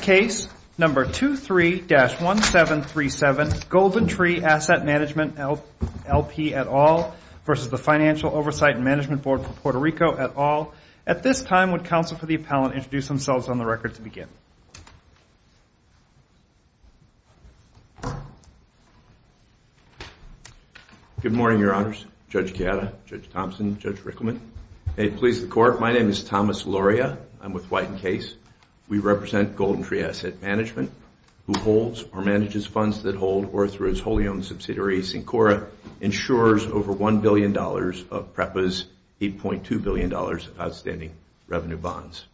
Case 23-1737 GoldenTree Asset Management LP v. Financial Oversight and Management Board for Puerto Rico, et al. At this time, would counsel for the appellant introduce themselves on the record to begin? Good morning, Your Honors. Judge Gatta, Judge Thompson, Judge Rickleman. May it please the Court, my name is Thomas Loria. I'm with White & Case. We represent GoldenTree Asset Management, who holds or manages funds that hold Orthra's wholly-owned subsidiary, Sincora, insurers over $1 billion of PREPA's $8.2 billion of outstanding revenue bonds.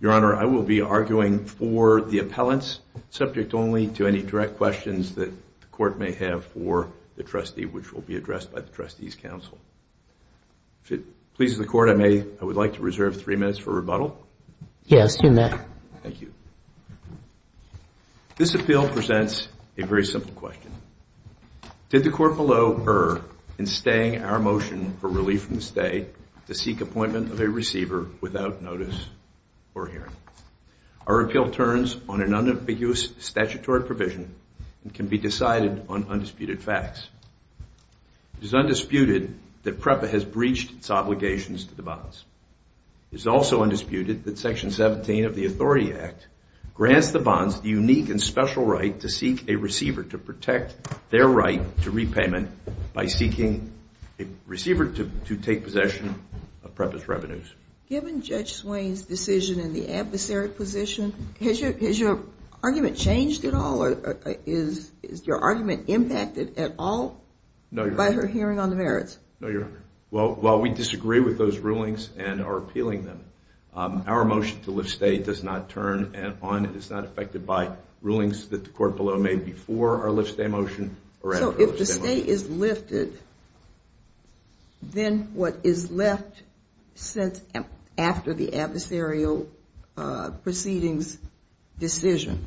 Your Honor, I will be arguing for the appellants, subject only to any direct questions that the Court may have for the trustee, which will be addressed by the Trustees' Council. If it pleases the Court, I would like to reserve three minutes for rebuttal. Yes, you may. Thank you. This appeal presents a very simple question. Did the Court below err in staying our motion for relief from the stay to seek appointment of a receiver without notice or hearing? Our appeal turns on an unambiguous statutory provision and can be decided on undisputed facts. It is undisputed that PREPA has breached its obligations to the bonds. It is also undisputed that Section 17 of the Authority Act grants the bonds the unique and special right to seek a receiver to protect their right to repayment by seeking a receiver to take possession of PREPA's revenues. Given Judge Swain's decision in the adversary position, has your argument changed at all? Is your argument impacted at all by her hearing on the merits? No, Your Honor. While we disagree with those rulings and are appealing them, our motion to lift stay does not turn on and is not affected by rulings that the Court below made before our lift stay motion or after our lift stay motion. If stay is lifted, then what is left after the adversarial proceedings decision?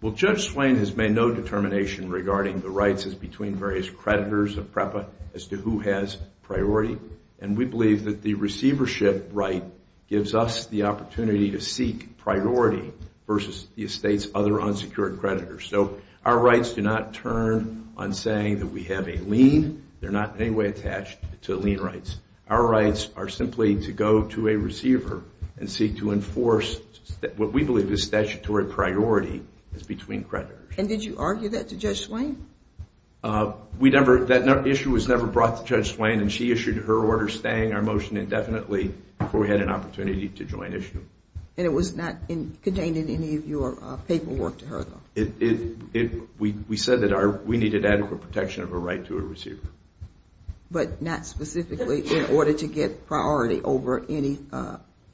Well, Judge Swain has made no determination regarding the rights between various creditors of PREPA as to who has priority. And we believe that the receivership right gives us the opportunity to seek priority versus the estate's other unsecured creditors. So our rights do not turn on saying that we have a lien. They're not in any way attached to lien rights. Our rights are simply to go to a receiver and seek to enforce what we believe is statutory priority as between creditors. And did you argue that to Judge Swain? That issue was never brought to Judge Swain, and she issued her order staying our motion indefinitely before we had an opportunity to join issue. And it was not contained in any of your paperwork to her, though? We said that we needed adequate protection of a right to a receiver. But not specifically in order to get priority over any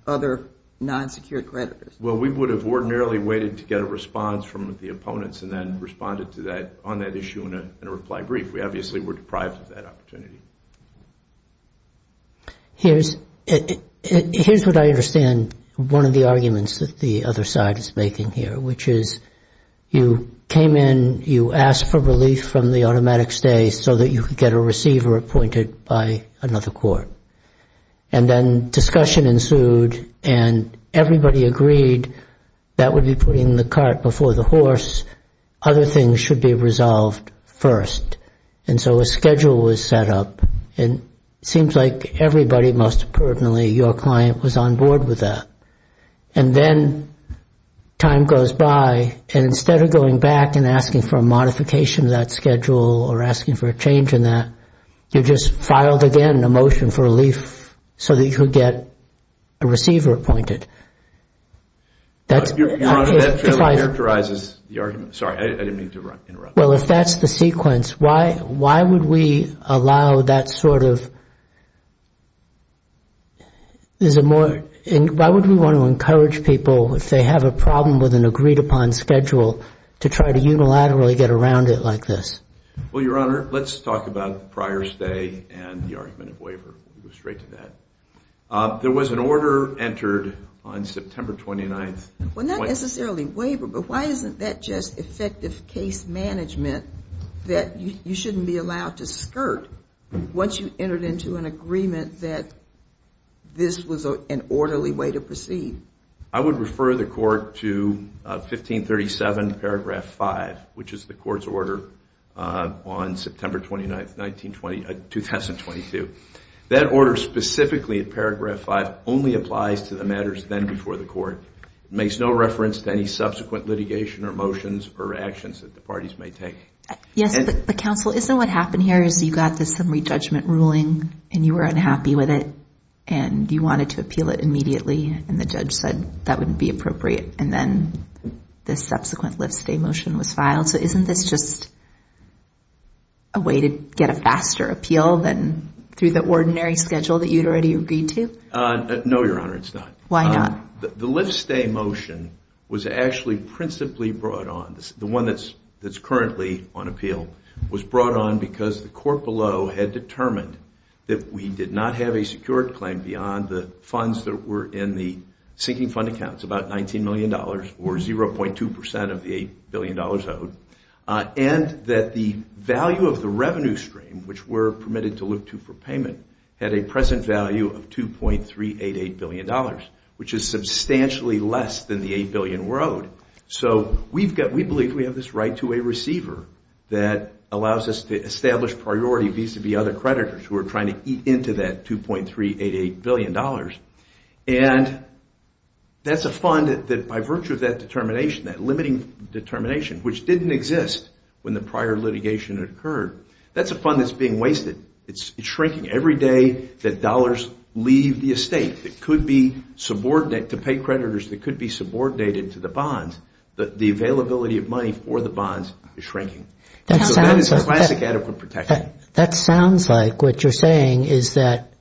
other non-secured creditors? Well, we would have ordinarily waited to get a response from the opponents and then responded on that issue in a reply brief. We obviously were deprived of that opportunity. Here's what I understand one of the arguments that the other side is making here, which is you came in, you asked for relief from the automatic stay so that you could get a receiver appointed by another court. And then discussion ensued, and everybody agreed that would be putting the cart before the horse. Other things should be resolved first. And so a schedule was set up, and it seems like everybody, most pertinently your client, was on board with that. And then time goes by, and instead of going back and asking for a modification of that schedule or asking for a change in that, you just filed again a motion for relief so that you could get a receiver appointed. That characterizes the argument. Sorry, I didn't mean to interrupt. Well, if that's the sequence, why would we allow that sort of – why would we want to encourage people if they have a problem with an agreed-upon schedule to try to unilaterally get around it like this? Well, Your Honor, let's talk about the prior stay and the argument of waiver. We'll go straight to that. There was an order entered on September 29th. Well, not necessarily waiver, but why isn't that just effective case management that you shouldn't be allowed to skirt once you entered into an agreement that this was an orderly way to proceed? I would refer the Court to 1537, paragraph 5, which is the Court's order on September 29th, 2022. That order specifically at paragraph 5 only applies to the matters then before the Court. It makes no reference to any subsequent litigation or motions or actions that the parties may take. Yes, but counsel, isn't what happened here is you got this summary judgment ruling and you were unhappy with it and you wanted to appeal it immediately and the judge said that wouldn't be appropriate and then the subsequent lift-stay motion was filed? So isn't this just a way to get a faster appeal than through the ordinary schedule that you'd already agreed to? No, Your Honor, it's not. Why not? The lift-stay motion was actually principally brought on. The one that's currently on appeal was brought on because the Court below had determined that we did not have a secured claim beyond the funds that were in the sinking fund accounts, about $19 million or 0.2% of the $8 billion owed, and that the value of the revenue stream, which we're permitted to look to for payment, had a present value of $2.388 billion, which is substantially less than the $8 billion we're owed. So we believe we have this right to a receiver that allows us to establish priority vis-à-vis other creditors who are trying to eat into that $2.388 billion. And that's a fund that, by virtue of that determination, that limiting determination, which didn't exist when the prior litigation had occurred, that's a fund that's being wasted. It's shrinking every day that dollars leave the estate. It could be subordinate to pay creditors that could be subordinated to the bonds. The availability of money for the bonds is shrinking. So that is classic adequate protection. That sounds like what you're saying is that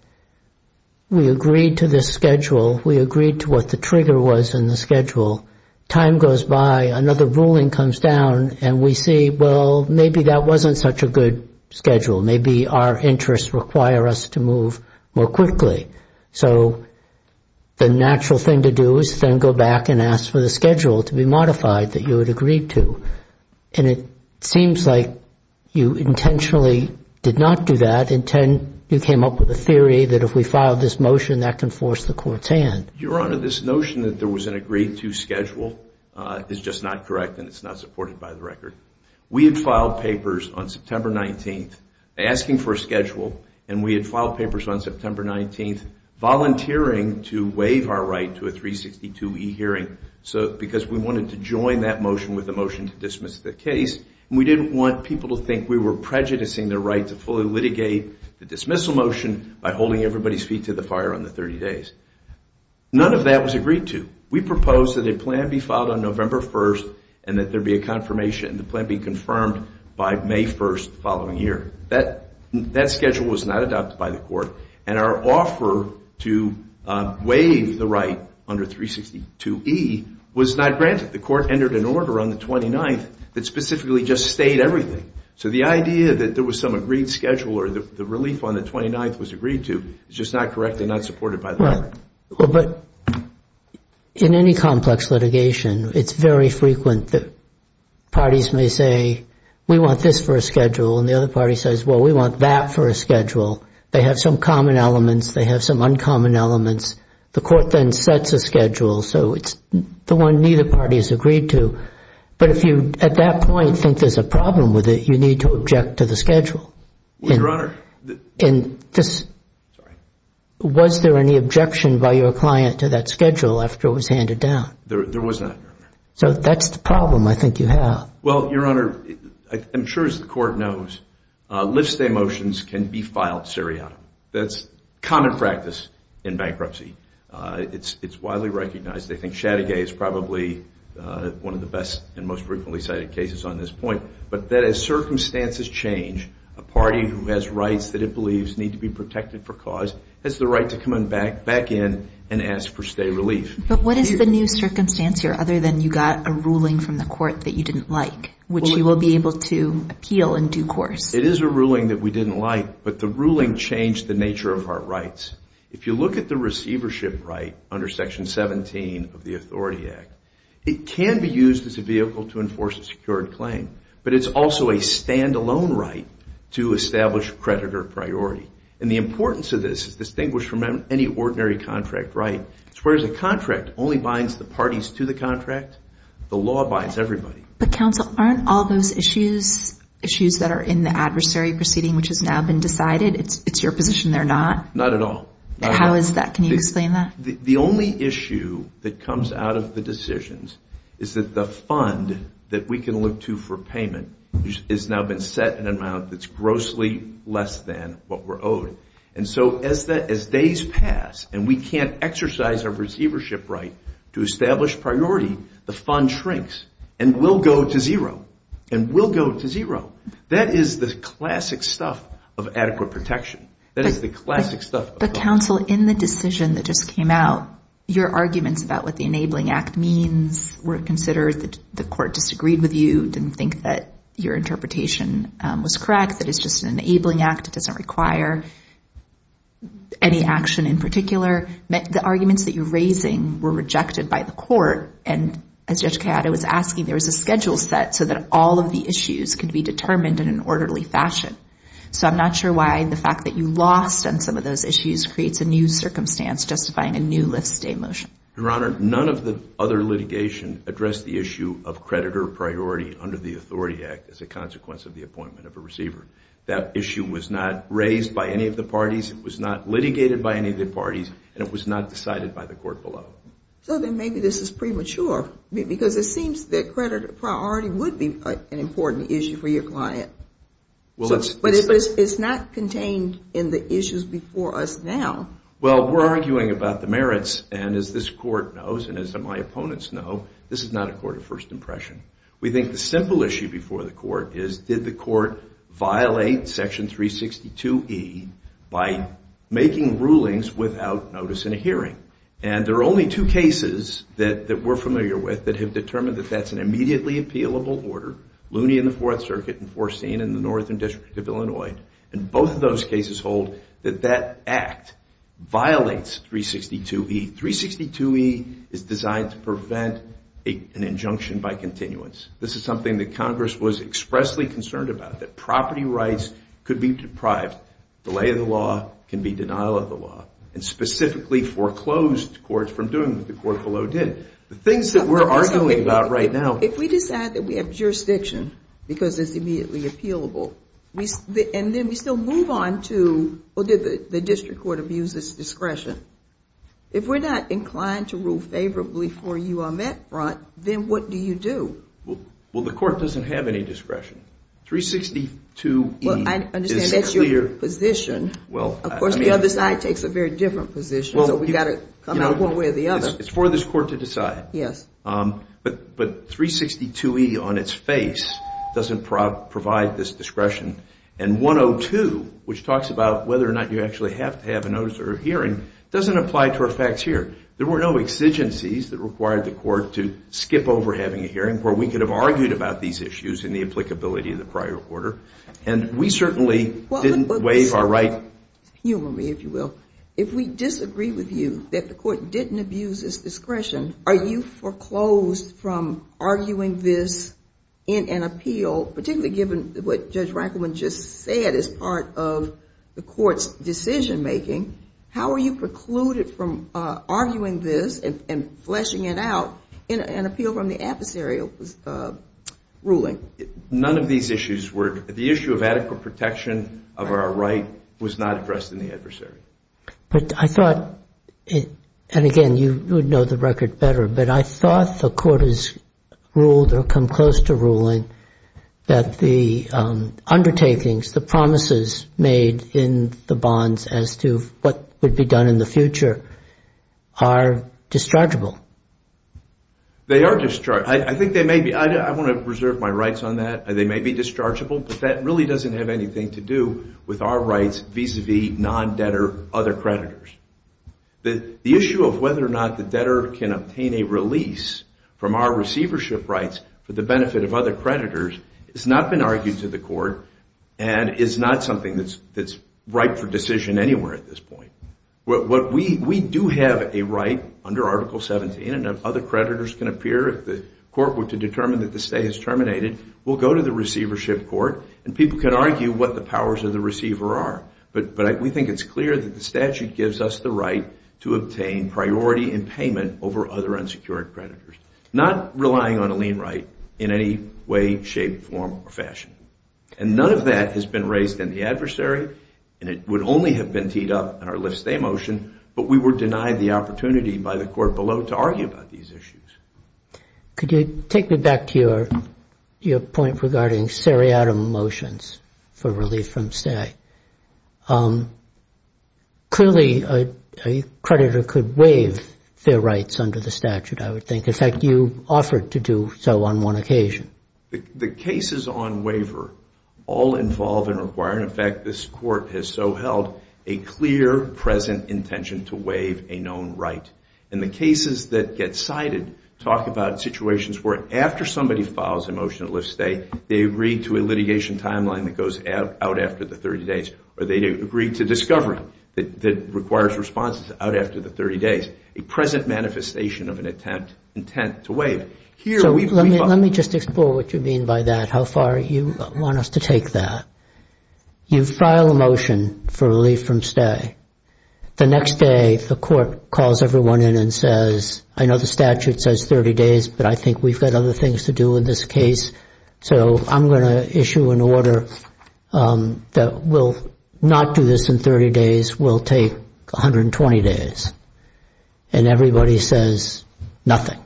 we agreed to this schedule. We agreed to what the trigger was in the schedule. Time goes by, another ruling comes down, and we see, well, maybe that wasn't such a good schedule. Maybe our interests require us to move more quickly. So the natural thing to do is then go back and ask for the schedule to be modified that you had agreed to. And it seems like you intentionally did not do that. You came up with a theory that if we filed this motion, that can force the court's hand. Your Honor, this notion that there was an agreed-to schedule is just not correct, and it's not supported by the record. We had filed papers on September 19th asking for a schedule, and we had filed papers on September 19th volunteering to waive our right to a 362e hearing because we wanted to join that motion with a motion to dismiss the case, and we didn't want people to think we were prejudicing their right to fully litigate the dismissal motion by holding everybody's feet to the fire on the 30 days. None of that was agreed to. We proposed that a plan be filed on November 1st and that there be a confirmation. The plan be confirmed by May 1st the following year. That schedule was not adopted by the court, and our offer to waive the right under 362e was not granted. The court entered an order on the 29th that specifically just stayed everything. So the idea that there was some agreed schedule or the relief on the 29th was agreed to is just not correct and not supported by the record. But in any complex litigation, it's very frequent that parties may say, we want this for a schedule, and the other party says, well, we want that for a schedule. They have some common elements. They have some uncommon elements. The court then sets a schedule, so it's the one neither party has agreed to. But if you at that point think there's a problem with it, you need to object to the schedule. Your Honor. Sorry. Was there any objection by your client to that schedule after it was handed down? There was not, Your Honor. So that's the problem I think you have. Well, Your Honor, I'm sure as the court knows, lift-stay motions can be filed seriatim. That's common practice in bankruptcy. It's widely recognized. I think Chattagay is probably one of the best and most frequently cited cases on this point. But as circumstances change, a party who has rights that it believes need to be protected for cause has the right to come back in and ask for stay relief. But what is the new circumstance here other than you got a ruling from the court that you didn't like, which you will be able to appeal in due course? It is a ruling that we didn't like, but the ruling changed the nature of our rights. If you look at the receivership right under Section 17 of the Authority Act, it can be used as a vehicle to enforce a secured claim, but it's also a standalone right to establish creditor priority. And the importance of this is distinguished from any ordinary contract right. Whereas a contract only binds the parties to the contract, the law binds everybody. But, counsel, aren't all those issues issues that are in the adversary proceeding, which has now been decided, it's your position they're not? Not at all. How is that? Can you explain that? The only issue that comes out of the decisions is that the fund that we can look to for payment has now been set in an amount that's grossly less than what we're owed. And so as days pass and we can't exercise our receivership right to establish priority, the fund shrinks and will go to zero. That is the classic stuff of adequate protection. But, counsel, in the decision that just came out, your arguments about what the Enabling Act means were considered. The court disagreed with you, didn't think that your interpretation was correct, that it's just an Enabling Act, it doesn't require any action in particular. The arguments that you're raising were rejected by the court, and as Judge Kayada was asking, there was a schedule set so that all of the issues could be determined in an orderly fashion. So I'm not sure why the fact that you lost on some of those issues creates a new circumstance justifying a new lift-stay motion. Your Honor, none of the other litigation addressed the issue of creditor priority under the Authority Act as a consequence of the appointment of a receiver. That issue was not raised by any of the parties, it was not litigated by any of the parties, and it was not decided by the court below. So then maybe this is premature, because it seems that creditor priority would be an important issue for your client. But it's not contained in the issues before us now. Well, we're arguing about the merits, and as this court knows, and as my opponents know, this is not a court of first impression. We think the simple issue before the court is, did the court violate Section 362e by making rulings without notice in a hearing? And there are only two cases that we're familiar with that have determined that that's an immediately appealable order, Looney in the Fourth Circuit and Forstine in the Northern District of Illinois. And both of those cases hold that that act violates 362e. 362e is designed to prevent an injunction by continuance. This is something that Congress was expressly concerned about, that property rights could be deprived, delay of the law can be denial of the law, and specifically foreclosed courts from doing what the court below did. The things that we're arguing about right now— because it's immediately appealable. And then we still move on to, well, did the district court abuse its discretion? If we're not inclined to rule favorably for you on that front, then what do you do? Well, the court doesn't have any discretion. 362e is clear— Well, I understand that's your position. Of course, the other side takes a very different position, so we've got to come out one way or the other. It's for this court to decide. But 362e on its face doesn't provide this discretion. And 102, which talks about whether or not you actually have to have a notice or a hearing, doesn't apply to our facts here. There were no exigencies that required the court to skip over having a hearing where we could have argued about these issues in the applicability of the prior order. And we certainly didn't waive our right— Humor me, if you will. If we disagree with you that the court didn't abuse its discretion, are you foreclosed from arguing this in an appeal, particularly given what Judge Rankleman just said is part of the court's decision-making? How are you precluded from arguing this and fleshing it out in an appeal from the adversarial ruling? None of these issues were— But I thought—and again, you would know the record better, but I thought the court has ruled or come close to ruling that the undertakings, the promises made in the bonds as to what would be done in the future are dischargeable. They are dischargeable. I think they may be. I want to reserve my rights on that. They may be dischargeable, but that really doesn't have anything to do with our rights vis-à-vis non-debtor other creditors. The issue of whether or not the debtor can obtain a release from our receivership rights for the benefit of other creditors has not been argued to the court and is not something that's ripe for decision anywhere at this point. We do have a right under Article 17, and other creditors can appear if the court were to determine that the stay is terminated. We'll go to the receivership court, and people can argue what the powers of the receiver are, but we think it's clear that the statute gives us the right to obtain priority in payment over other unsecured creditors, not relying on a lien right in any way, shape, form, or fashion. And none of that has been raised in the adversary, and it would only have been teed up in our lift-stay motion, but we were denied the opportunity by the court below to argue about these issues. Could you take me back to your point regarding seriatim motions for relief from stay? Clearly, a creditor could waive their rights under the statute, I would think. In fact, you offered to do so on one occasion. The cases on waiver all involve and require, and in fact this court has so held, a clear, present intention to waive a known right. And the cases that get cited talk about situations where, after somebody files a motion to lift stay, they agree to a litigation timeline that goes out after the 30 days, or they agree to discovery that requires responses out after the 30 days, a present manifestation of an intent to waive. Let me just explore what you mean by that, how far you want us to take that. You file a motion for relief from stay. The next day, the court calls everyone in and says, I know the statute says 30 days, but I think we've got other things to do in this case, so I'm going to issue an order that will not do this in 30 days, will take 120 days. And everybody says nothing.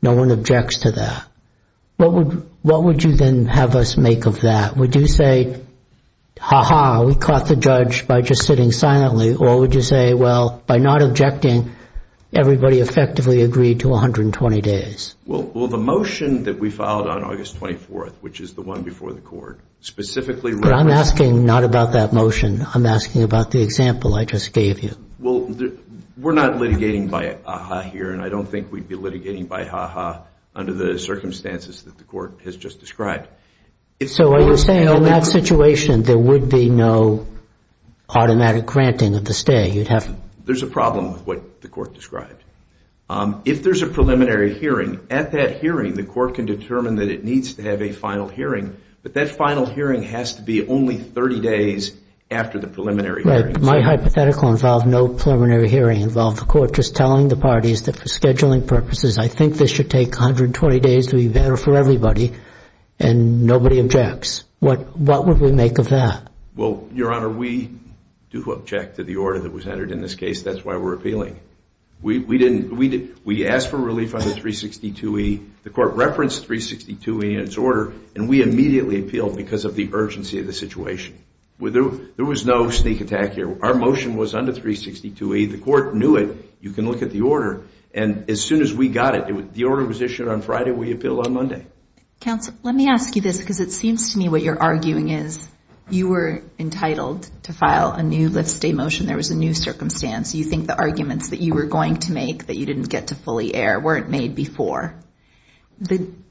No one objects to that. What would you then have us make of that? Would you say, ha-ha, we caught the judge by just sitting silently, or would you say, well, by not objecting, everybody effectively agreed to 120 days? Well, the motion that we filed on August 24th, which is the one before the court, specifically referenced the motion. But I'm asking not about that motion. I'm asking about the example I just gave you. Well, we're not litigating by ha-ha here, and I don't think we'd be litigating by ha-ha under the circumstances that the court has just described. So are you saying in that situation there would be no automatic granting of the stay? There's a problem with what the court described. If there's a preliminary hearing, at that hearing, the court can determine that it needs to have a final hearing, but that final hearing has to be only 30 days after the preliminary hearing. Right. My hypothetical involved no preliminary hearing, involved the court just telling the parties that for scheduling purposes, I think this should take 120 days to be better for everybody, and nobody objects. What would we make of that? Well, Your Honor, we do object to the order that was entered in this case. That's why we're appealing. We asked for relief under 362E. The court referenced 362E in its order, and we immediately appealed because of the urgency of the situation. There was no sneak attack here. Our motion was under 362E. The court knew it. You can look at the order. And as soon as we got it, the order was issued on Friday. We appealed on Monday. Counsel, let me ask you this because it seems to me what you're arguing is you were entitled to file a new lift-stay motion. There was a new circumstance. You think the arguments that you were going to make, that you didn't get to fully air, weren't made before.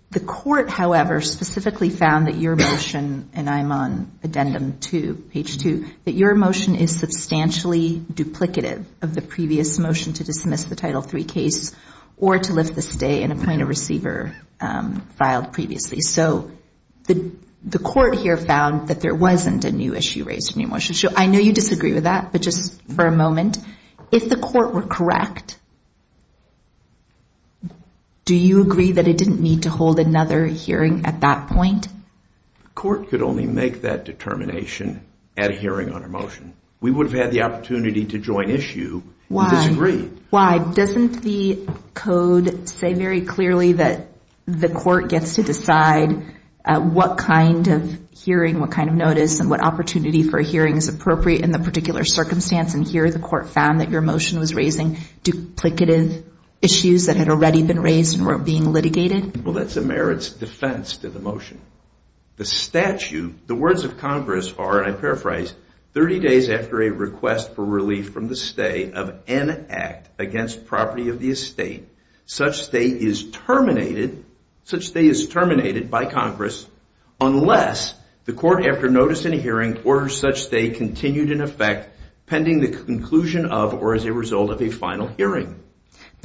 The court, however, specifically found that your motion, and I'm on addendum 2, page 2, that your motion is substantially duplicative of the previous motion to dismiss the Title III case or to lift the stay and appoint a receiver filed previously. So the court here found that there wasn't a new issue raised in your motion. I know you disagree with that, but just for a moment, if the court were correct, do you agree that it didn't need to hold another hearing at that point? The court could only make that determination at a hearing on our motion. We would have had the opportunity to join issue if it's agreed. Why? Doesn't the code say very clearly that the court gets to decide what kind of hearing, what kind of notice, and what opportunity for a hearing is appropriate in the particular circumstance, and here the court found that your motion was raising duplicative issues that had already been raised and were being litigated? Well, that's a merits defense to the motion. The statute, the words of Congress are, and I paraphrase, 30 days after a request for relief from the stay of an act against property of the estate, such stay is terminated by Congress unless the court, after notice and hearing, orders such stay continued in effect pending the conclusion of or as a result of a final hearing.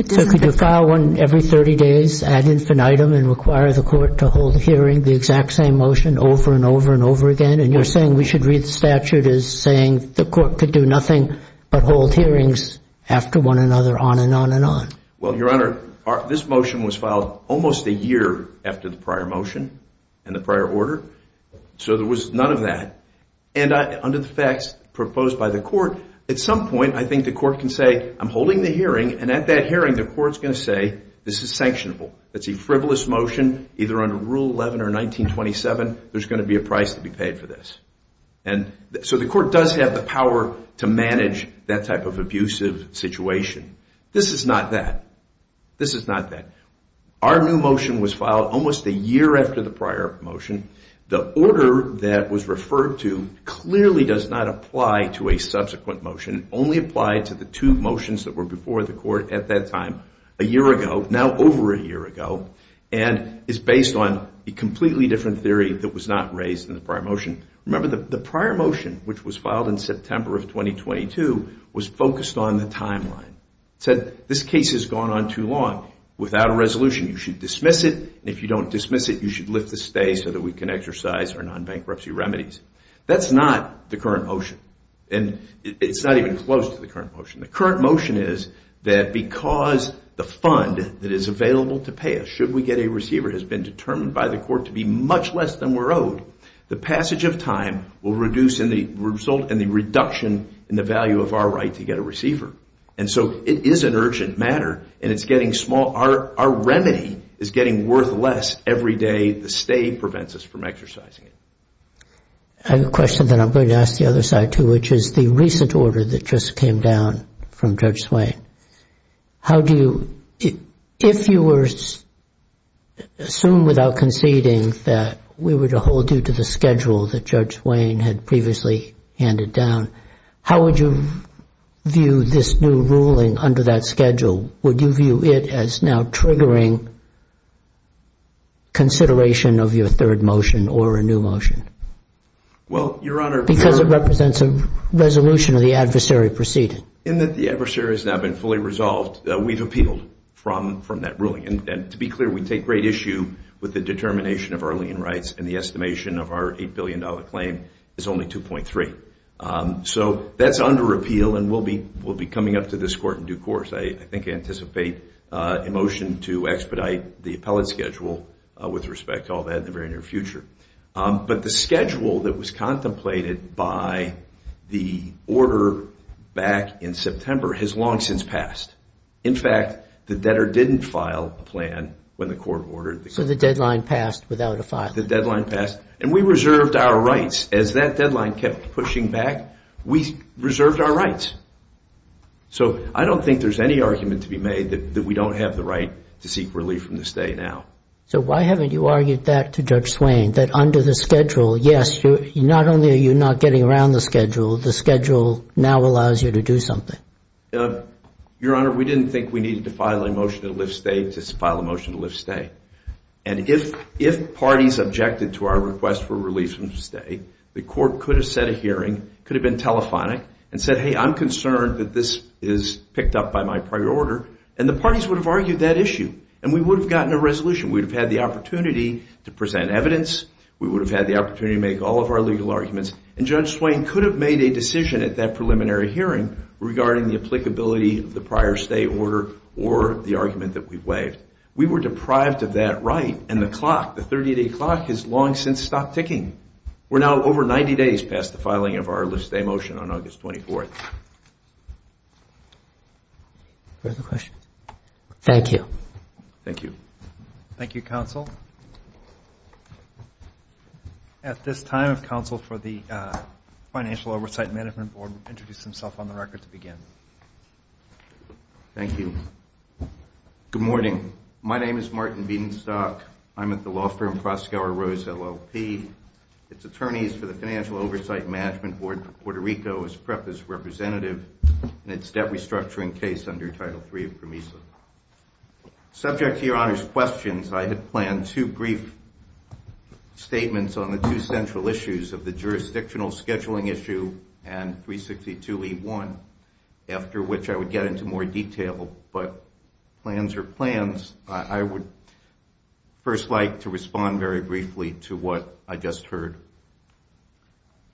So could you file one every 30 days ad infinitum and require the court to hold a hearing, the exact same motion over and over and over again, and you're saying we should read the statute as saying the court could do nothing but hold hearings after one another on and on and on? Well, Your Honor, this motion was filed almost a year after the prior motion and the prior order, so there was none of that, and under the facts proposed by the court, at some point I think the court can say I'm holding the hearing, and at that hearing the court's going to say this is sanctionable. It's a frivolous motion either under Rule 11 or 1927. There's going to be a price to be paid for this. So the court does have the power to manage that type of abusive situation. This is not that. This is not that. Our new motion was filed almost a year after the prior motion. The order that was referred to clearly does not apply to a subsequent motion, only applied to the two motions that were before the court at that time a year ago, now over a year ago, and is based on a completely different theory that was not raised in the prior motion. Remember, the prior motion, which was filed in September of 2022, was focused on the timeline. It said this case has gone on too long. Without a resolution, you should dismiss it, and if you don't dismiss it, you should lift the stay so that we can exercise our non-bankruptcy remedies. That's not the current motion, and it's not even close to the current motion. The current motion is that because the fund that is available to pay us, should we get a receiver, has been determined by the court to be much less than we're owed, the passage of time will result in the reduction in the value of our right to get a receiver. And so it is an urgent matter, and it's getting small. Our remedy is getting worth less every day. The stay prevents us from exercising it. I have a question that I'm going to ask the other side too, which is the recent order that just came down from Judge Swain. If you were to assume without conceding that we were to hold you to the schedule that Judge Swain had previously handed down, how would you view this new ruling under that schedule? Would you view it as now triggering consideration of your third motion or a new motion? Because it represents a resolution of the adversary proceeding. In that the adversary has now been fully resolved, we've appealed from that ruling. And to be clear, we take great issue with the determination of our lien rights, and the estimation of our $8 billion claim is only 2.3. So that's under appeal, and we'll be coming up to this court in due course. I think I anticipate a motion to expedite the appellate schedule with respect to all that in the very near future. But the schedule that was contemplated by the order back in September has long since passed. In fact, the debtor didn't file a plan when the court ordered it. So the deadline passed without a filing. The deadline passed, and we reserved our rights. As that deadline kept pushing back, we reserved our rights. So I don't think there's any argument to be made that we don't have the right to seek relief from the stay now. So why haven't you argued that to Judge Swain, that under the schedule, yes, not only are you not getting around the schedule, the schedule now allows you to do something? Your Honor, we didn't think we needed to file a motion to lift stay to file a motion to lift stay. And if parties objected to our request for relief from the stay, the court could have set a hearing, could have been telephonic, and said, hey, I'm concerned that this is picked up by my prior order, and the parties would have argued that issue, and we would have gotten a resolution. We would have had the opportunity to present evidence. We would have had the opportunity to make all of our legal arguments. And Judge Swain could have made a decision at that preliminary hearing regarding the applicability of the prior stay order or the argument that we've waived. We were deprived of that right, and the clock, the 30-day clock, has long since stopped ticking. We're now over 90 days past the filing of our lift stay motion on August 24th. Further questions? Thank you. Thank you. Thank you, Counsel. At this time, if Counsel for the Financial Oversight Management Board would introduce himself on the record to begin. Thank you. Good morning. My name is Martin Bedenstock. I'm at the law firm Proskauer Rose, LLP. It's attorneys for the Financial Oversight Management Board of Puerto Rico, and it's debt restructuring case under Title III of PROMISA. Subject to Your Honor's questions, I had planned two brief statements on the two central issues of the jurisdictional scheduling issue and 362E1, after which I would get into more detail. But plans are plans. I would first like to respond very briefly to what I just heard.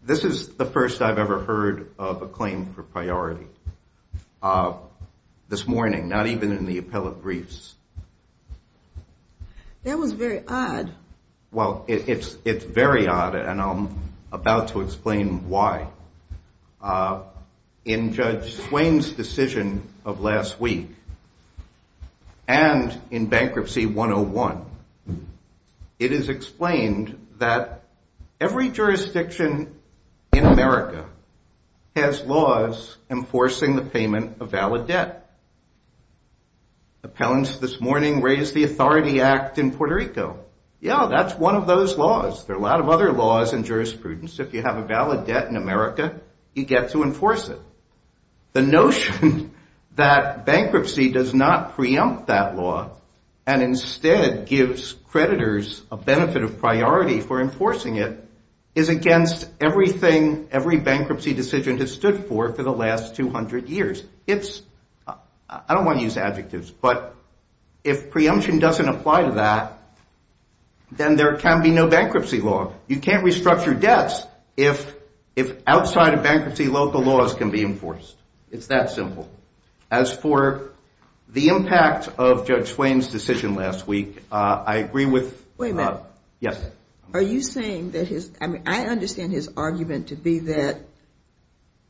This is the first I've ever heard of a claim for priority this morning, not even in the appellate briefs. That was very odd. Well, it's very odd, and I'm about to explain why. In Judge Swain's decision of last week and in Bankruptcy 101, it is explained that every jurisdiction in America has laws enforcing the payment of valid debt. Appellants this morning raised the Authority Act in Puerto Rico. Yeah, that's one of those laws. There are a lot of other laws and jurisprudence. If you have a valid debt in America, you get to enforce it. The notion that bankruptcy does not preempt that law and instead gives creditors a benefit of priority for enforcing it is against everything every bankruptcy decision has stood for for the last 200 years. I don't want to use adjectives, but if preemption doesn't apply to that, then there can be no bankruptcy law. You can't restructure debts if outside-of-bankruptcy local laws can be enforced. It's that simple. As for the impact of Judge Swain's decision last week, I agree with— Wait a minute. Yes? Are you saying that his—I mean, I understand his argument to be that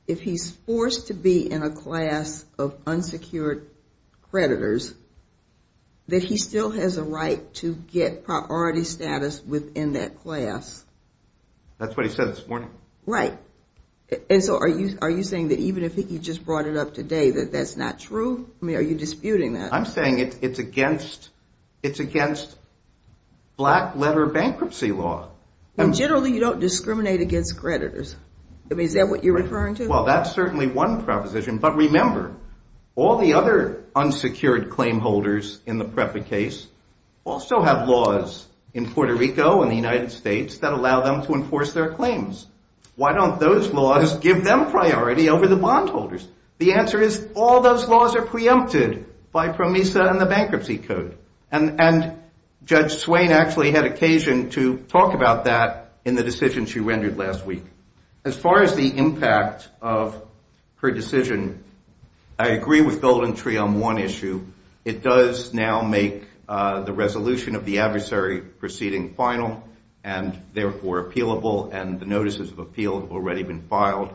if he's forced to be in a class of unsecured creditors, that he still has a right to get priority status within that class? That's what he said this morning. Right. And so are you saying that even if he just brought it up today, that that's not true? I mean, are you disputing that? I'm saying it's against black-letter bankruptcy law. Generally, you don't discriminate against creditors. Is that what you're referring to? Well, that's certainly one proposition. But remember, all the other unsecured claimholders in the PREPA case also have laws in Puerto Rico and the United States that allow them to enforce their claims. Why don't those laws give them priority over the bondholders? The answer is all those laws are preempted by PROMISA and the Bankruptcy Code. And Judge Swain actually had occasion to talk about that in the decision she rendered last week. As far as the impact of her decision, I agree with GoldenTree on one issue. It does now make the resolution of the adversary proceeding final and therefore appealable, and the notices of appeal have already been filed.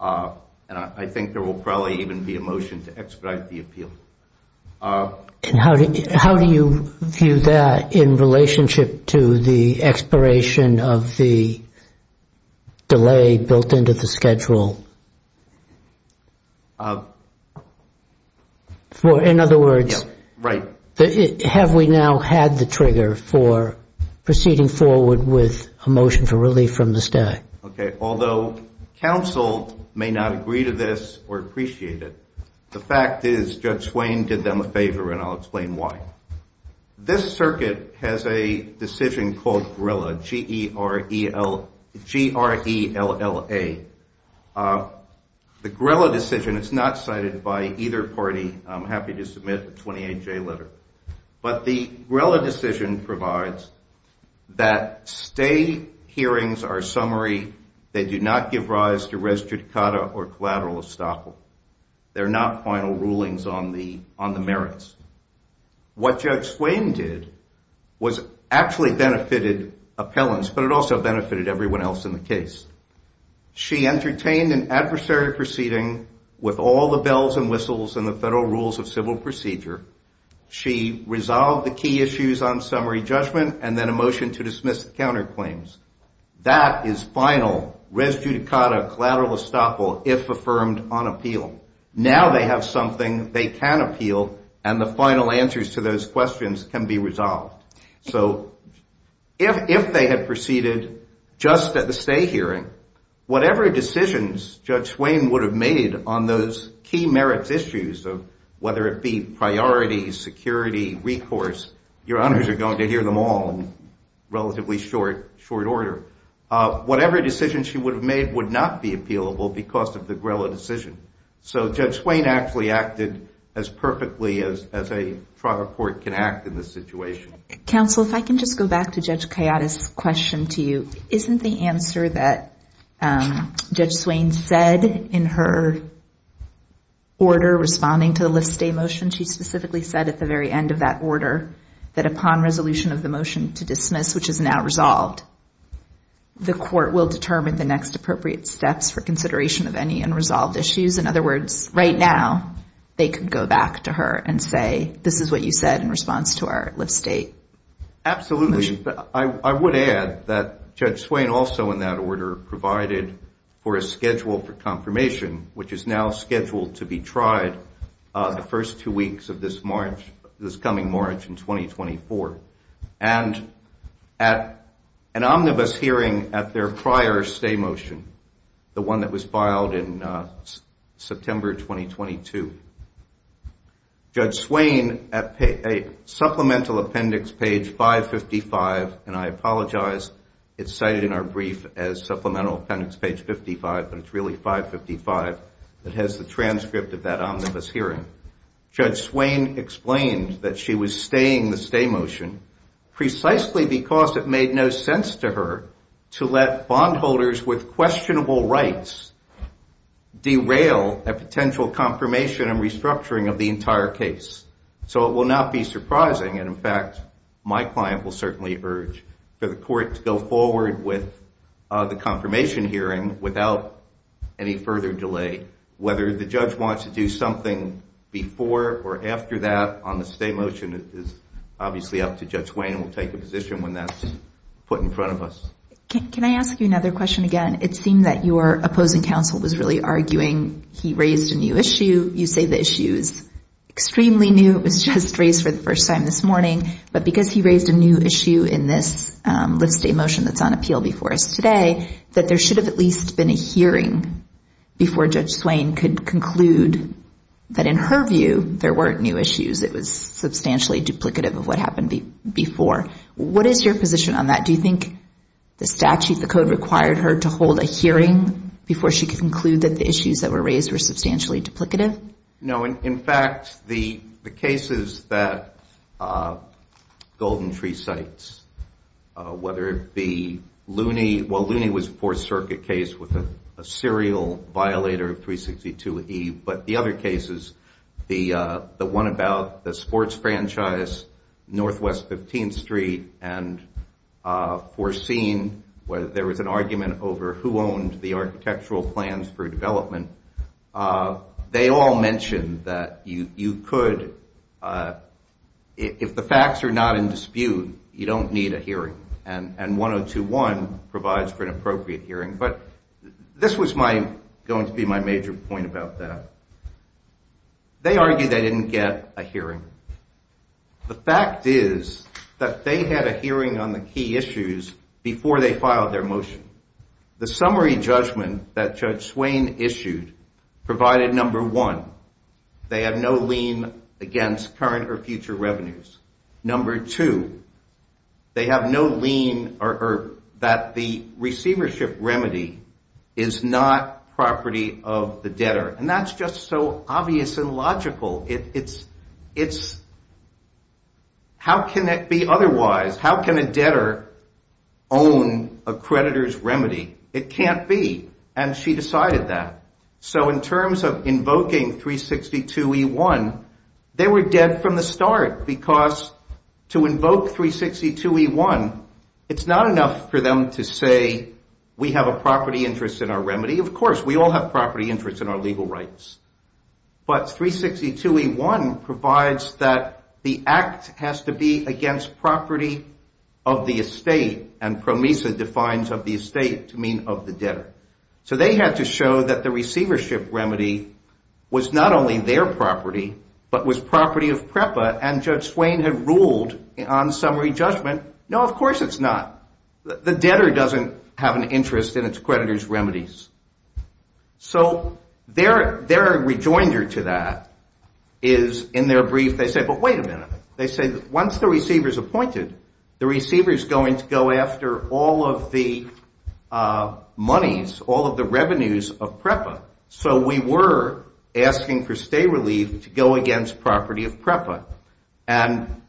And I think there will probably even be a motion to expedite the appeal. And how do you view that in relationship to the expiration of the delay built into the schedule? In other words, have we now had the trigger for proceeding forward with a motion for relief from the stack? Although counsel may not agree to this or appreciate it, the fact is Judge Swain did them a favor, and I'll explain why. This circuit has a decision called GRELLA, G-R-E-L-L-A. The GRELLA decision is not cited by either party. I'm happy to submit a 28-J letter. But the GRELLA decision provides that stay hearings are summary. They do not give rise to res judicata or collateral estoppel. They're not final rulings on the merits. What Judge Swain did was actually benefited appellants, but it also benefited everyone else in the case. She entertained an adversary proceeding with all the bells and whistles and the federal rules of civil procedure. She resolved the key issues on summary judgment and then a motion to dismiss the counterclaims. That is final res judicata collateral estoppel if affirmed on appeal. Now they have something they can appeal, and the final answers to those questions can be resolved. So if they had proceeded just at the stay hearing, whatever decisions Judge Swain would have made on those key merits issues, whether it be priority, security, recourse, your honors are going to hear them all in relatively short order. Whatever decision she would have made would not be appealable because of the GRELLA decision. So Judge Swain actually acted as perfectly as a trial court can act in this situation. Counsel, if I can just go back to Judge Kayada's question to you. Isn't the answer that Judge Swain said in her order responding to the lift stay motion, she specifically said at the very end of that order that upon resolution of the motion to dismiss, which is now resolved, the court will determine the next appropriate steps for consideration of any unresolved issues? In other words, right now they could go back to her and say this is what you said in response to our lift stay motion. Absolutely. I would add that Judge Swain also in that order provided for a schedule for confirmation, which is now scheduled to be tried the first two weeks of this coming March in 2024. And at an omnibus hearing at their prior stay motion, the one that was filed in September 2022, Judge Swain at supplemental appendix page 555, and I apologize, it's cited in our brief as supplemental appendix page 55, but it's really 555 that has the transcript of that omnibus hearing. Judge Swain explained that she was staying the stay motion precisely because it made no sense to her to let bondholders with questionable rights derail a potential confirmation and restructuring of the entire case. So it will not be surprising, and in fact my client will certainly urge for the court to go forward with the confirmation hearing without any further delay. Whether the judge wants to do something before or after that on the stay motion is obviously up to Judge Swain. We'll take a position when that's put in front of us. Can I ask you another question again? It seemed that your opposing counsel was really arguing he raised a new issue. You say the issue is extremely new. It was just raised for the first time this morning. But because he raised a new issue in this lift stay motion that's on appeal before us today, that there should have at least been a hearing before Judge Swain could conclude that in her view there weren't new issues, it was substantially duplicative of what happened before. What is your position on that? Do you think the statute, the code required her to hold a hearing before she could conclude that the issues that were raised were substantially duplicative? In fact, the cases that Golden Tree cites, whether it be Looney, well, Looney was a Fourth Circuit case with a serial violator of 362E, but the other cases, the one about the sports franchise, Northwest 15th Street, and foreseen where there was an argument over who owned the architectural plans for development, they all mentioned that you could, if the facts are not in dispute, you don't need a hearing. And 102.1 provides for an appropriate hearing. But this was going to be my major point about that. They argued they didn't get a hearing. The fact is that they had a hearing on the key issues before they filed their motion. The summary judgment that Judge Swain issued provided, number one, they have no lien against current or future revenues. Number two, they have no lien that the receivership remedy is not property of the debtor. And that's just so obvious and logical. It's how can it be otherwise? How can a debtor own a creditor's remedy? It can't be. And she decided that. So in terms of invoking 362E1, they were dead from the start because to invoke 362E1, it's not enough for them to say we have a property interest in our remedy. Of course, we all have property interests in our legal rights. But 362E1 provides that the act has to be against property of the estate, and promesa defines of the estate to mean of the debtor. So they had to show that the receivership remedy was not only their property but was property of PREPA, and Judge Swain had ruled on summary judgment, no, of course it's not. The debtor doesn't have an interest in its creditor's remedies. So their rejoinder to that is in their brief they say, but wait a minute. They say once the receiver is appointed, the receiver is going to go after all of the monies, all of the revenues of PREPA. So we were asking for stay relief to go against property of PREPA. And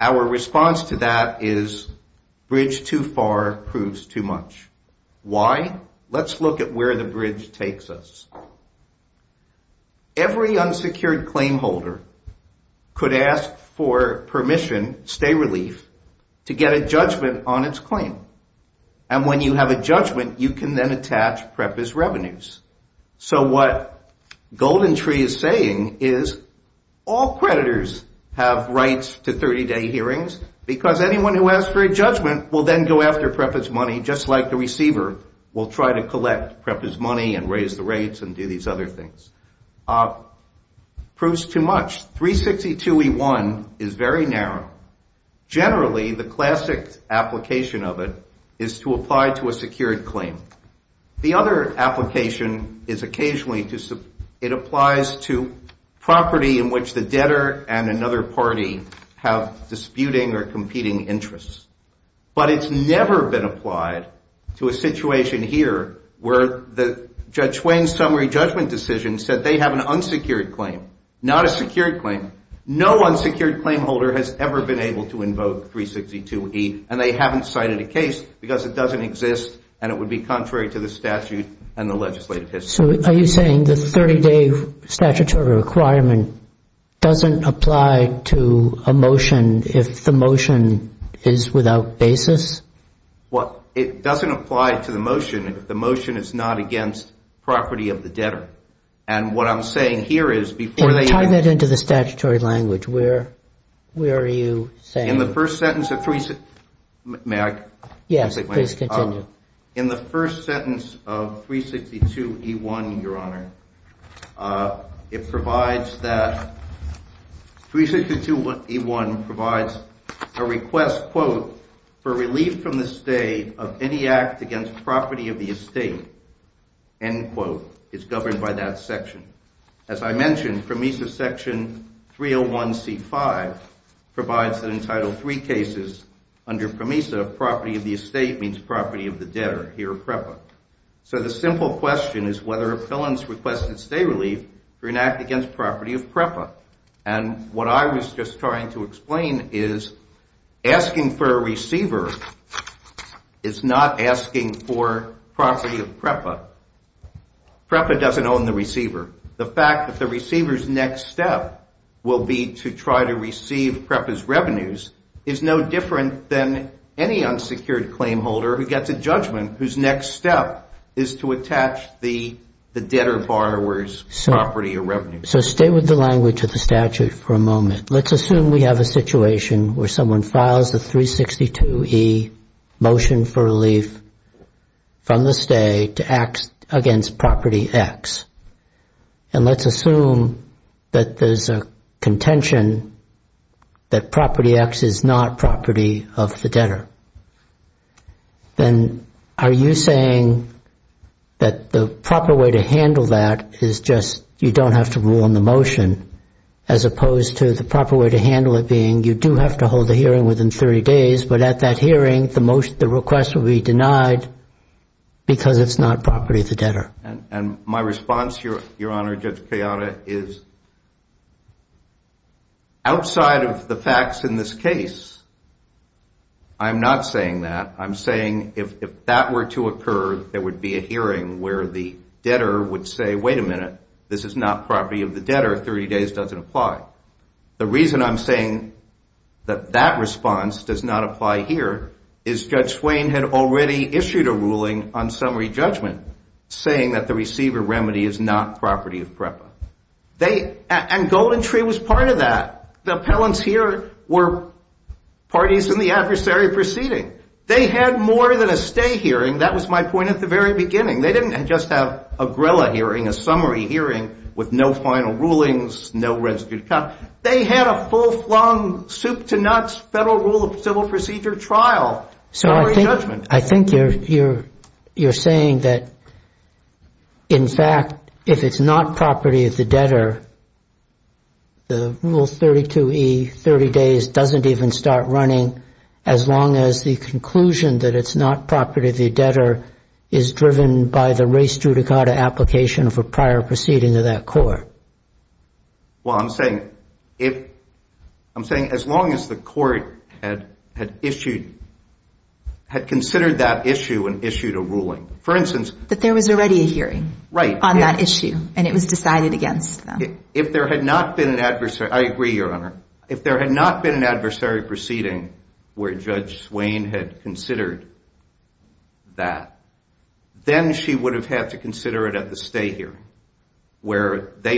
our response to that is bridge too far proves too much. Why? Let's look at where the bridge takes us. Every unsecured claim holder could ask for permission, stay relief, to get a judgment on its claim. And when you have a judgment, you can then attach PREPA's revenues. So what GoldenTree is saying is all creditors have rights to 30-day hearings because anyone who asks for a judgment will then go after PREPA's money just like the receiver will try to collect PREPA's money and raise the rates and do these other things. Proves too much. 362E1 is very narrow. Generally, the classic application of it is to apply to a secured claim. The other application is occasionally it applies to property in which the debtor and another party have disputing or competing interests. But it's never been applied to a situation here where Judge Wayne's summary judgment decision said they have an unsecured claim, not a secured claim. No unsecured claim holder has ever been able to invoke 362E, and they haven't cited a case because it doesn't exist and it would be contrary to the statute and the legislative history. So are you saying the 30-day statutory requirement doesn't apply to a motion if the motion is without basis? Well, it doesn't apply to the motion if the motion is not against property of the debtor. And what I'm saying here is before they have- And tie that into the statutory language. Where are you saying- In the first sentence of 362- May I? Yes, please continue. In the first sentence of 362E1, Your Honor, it provides that- 362E1 provides a request, quote, for relief from the state of any act against property of the estate. End quote. It's governed by that section. As I mentioned, PROMESA section 301C5 provides an entitled three cases. Under PROMESA, property of the estate means property of the debtor. Here are PREPA. So the simple question is whether a felon has requested state relief for an act against property of PREPA. And what I was just trying to explain is asking for a receiver is not asking for property of PREPA. PREPA doesn't own the receiver. The fact that the receiver's next step will be to try to receive PREPA's revenues is no different than any unsecured claim holder who gets a judgment whose next step is to attach the debtor borrower's property or revenue. So stay with the language of the statute for a moment. Let's assume we have a situation where someone files a 362E motion for relief from the state to act against property X. And let's assume that there's a contention that property X is not property of the debtor. Then are you saying that the proper way to handle that is just you don't have to rule in the motion as opposed to the proper way to handle it being you do have to hold the hearing within 30 days, but at that hearing the request will be denied because it's not property of the debtor? And my response, Your Honor, Judge Kayada, is outside of the facts in this case, I'm not saying that. I'm saying if that were to occur, there would be a hearing where the debtor would say, wait a minute, this is not property of the debtor, 30 days doesn't apply. The reason I'm saying that that response does not apply here is Judge Swain had already issued a ruling on summary judgment saying that the receiver remedy is not property of PREPA. And Golden Tree was part of that. The appellants here were parties in the adversary proceeding. They had more than a stay hearing. That was my point at the very beginning. They didn't just have a gorilla hearing, a summary hearing with no final rulings, no rescue to come. They had a full-flung soup to nuts federal rule of civil procedure trial summary judgment. I think you're saying that, in fact, if it's not property of the debtor, the rule 32E, 30 days, doesn't even start running as long as the conclusion that it's not property of the debtor is driven by the res judicata application for prior proceeding to that court. Well, I'm saying as long as the court had considered that issue and issued a ruling. For instance. That there was already a hearing. Right. On that issue. And it was decided against them. If there had not been an adversary, I agree, Your Honor. If there had not been an adversary proceeding where Judge Swain had considered that, then she would have had to consider it at the stay hearing where they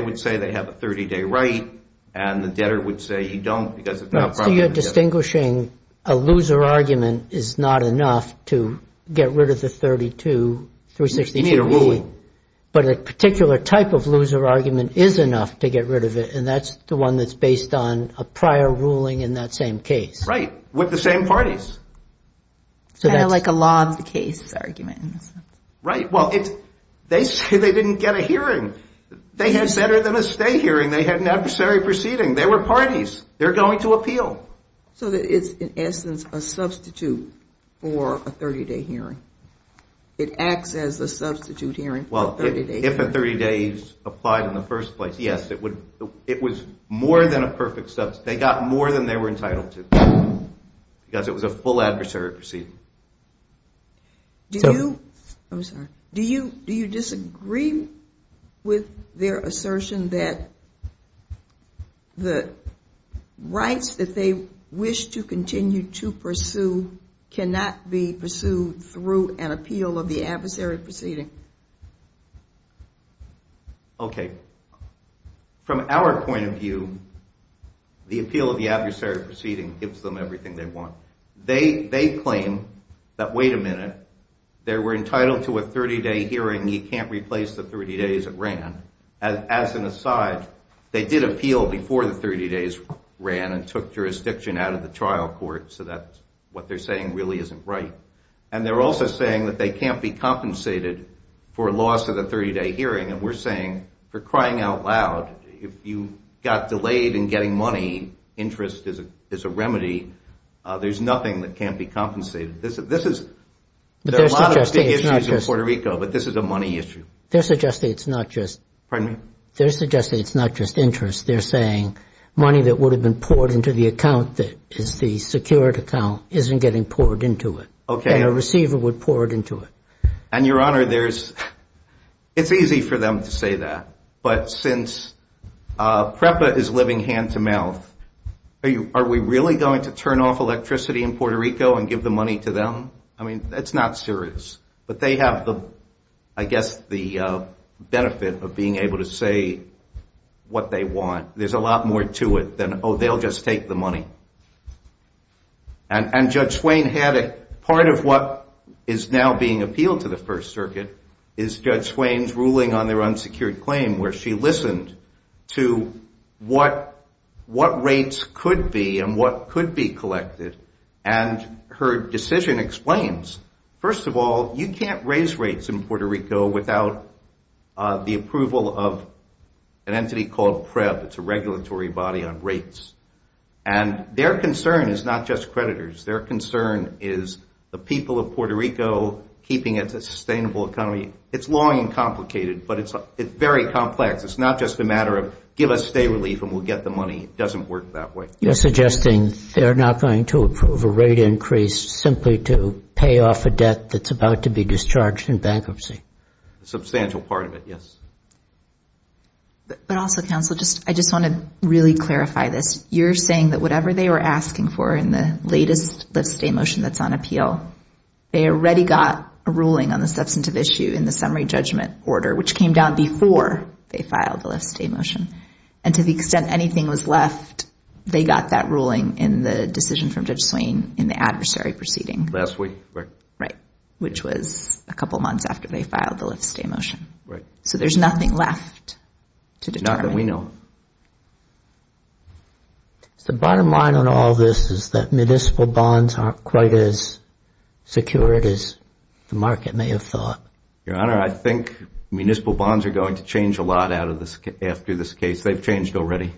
would say they have a 30-day right and the debtor would say you don't because it's not property of the debtor. So you're distinguishing a loser argument is not enough to get rid of the 32, 362E. You mean a ruling. But a particular type of loser argument is enough to get rid of it, and that's the one that's based on a prior ruling in that same case. Right. With the same parties. Kind of like a law of the case argument. Right. Well, they say they didn't get a hearing. They had sent her to the stay hearing. They had an adversary proceeding. They were parties. They're going to appeal. So it's, in essence, a substitute for a 30-day hearing. It acts as a substitute hearing for a 30-day hearing. Well, if a 30-day is applied in the first place, yes, it would. It was more than a perfect substitute. They got more than they were entitled to. Because it was a full adversary proceeding. Do you disagree with their assertion that the rights that they wish to continue to pursue cannot be pursued through an appeal of the adversary proceeding? Okay. From our point of view, the appeal of the adversary proceeding gives them everything they want. They claim that, wait a minute, they were entitled to a 30-day hearing. You can't replace the 30 days it ran. As an aside, they did appeal before the 30 days ran and took jurisdiction out of the trial court, so that's what they're saying really isn't right. And they're also saying that they can't be compensated for loss of the 30-day hearing. And we're saying, for crying out loud, if you got delayed in getting money, interest is a remedy. There's nothing that can't be compensated. There are a lot of big issues in Puerto Rico, but this is a money issue. They're suggesting it's not just interest. They're saying money that would have been poured into the account that is the secured account isn't getting poured into it and a receiver would pour it into it. And, Your Honor, it's easy for them to say that, but since PREPA is living hand-to-mouth, are we really going to turn off electricity in Puerto Rico and give the money to them? I mean, that's not serious. But they have, I guess, the benefit of being able to say what they want. There's a lot more to it than, oh, they'll just take the money. And Judge Swain had a part of what is now being appealed to the First Circuit is Judge Swain's ruling on their unsecured claim where she listened to what rates could be and what could be collected, and her decision explains, first of all, you can't raise rates in Puerto Rico without the approval of an entity called PREP. It's a regulatory body on rates. And their concern is not just creditors. Their concern is the people of Puerto Rico keeping a sustainable economy. It's long and complicated, but it's very complex. It's not just a matter of give us stay relief and we'll get the money. It doesn't work that way. You're suggesting they're not going to approve a rate increase simply to pay off a debt that's about to be discharged in bankruptcy. A substantial part of it, yes. But also, counsel, I just want to really clarify this. You're saying that whatever they were asking for in the latest lift-stay motion that's on appeal, they already got a ruling on the substantive issue in the summary judgment order, which came down before they filed the lift-stay motion. And to the extent anything was left, they got that ruling in the decision from Judge Swain in the adversary proceeding. Last week, right. Right, which was a couple months after they filed the lift-stay motion. Right. So there's nothing left to determine. Not that we know of. The bottom line on all this is that municipal bonds aren't quite as secure as the market may have thought. Your Honor, I think municipal bonds are going to change a lot after this case. They've changed already.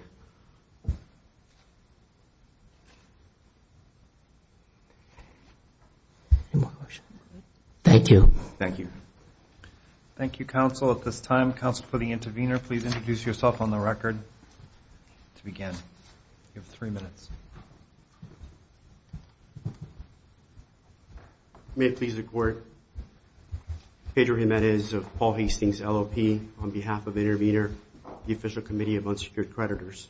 Any more questions? Thank you. Thank you. Thank you, counsel. At this time, counsel, for the intervener, please introduce yourself on the record to begin. You have three minutes. May it please the Court. Pedro Jimenez of Paul Hastings LLP on behalf of the intervener, the Official Committee of Unsecured Creditors.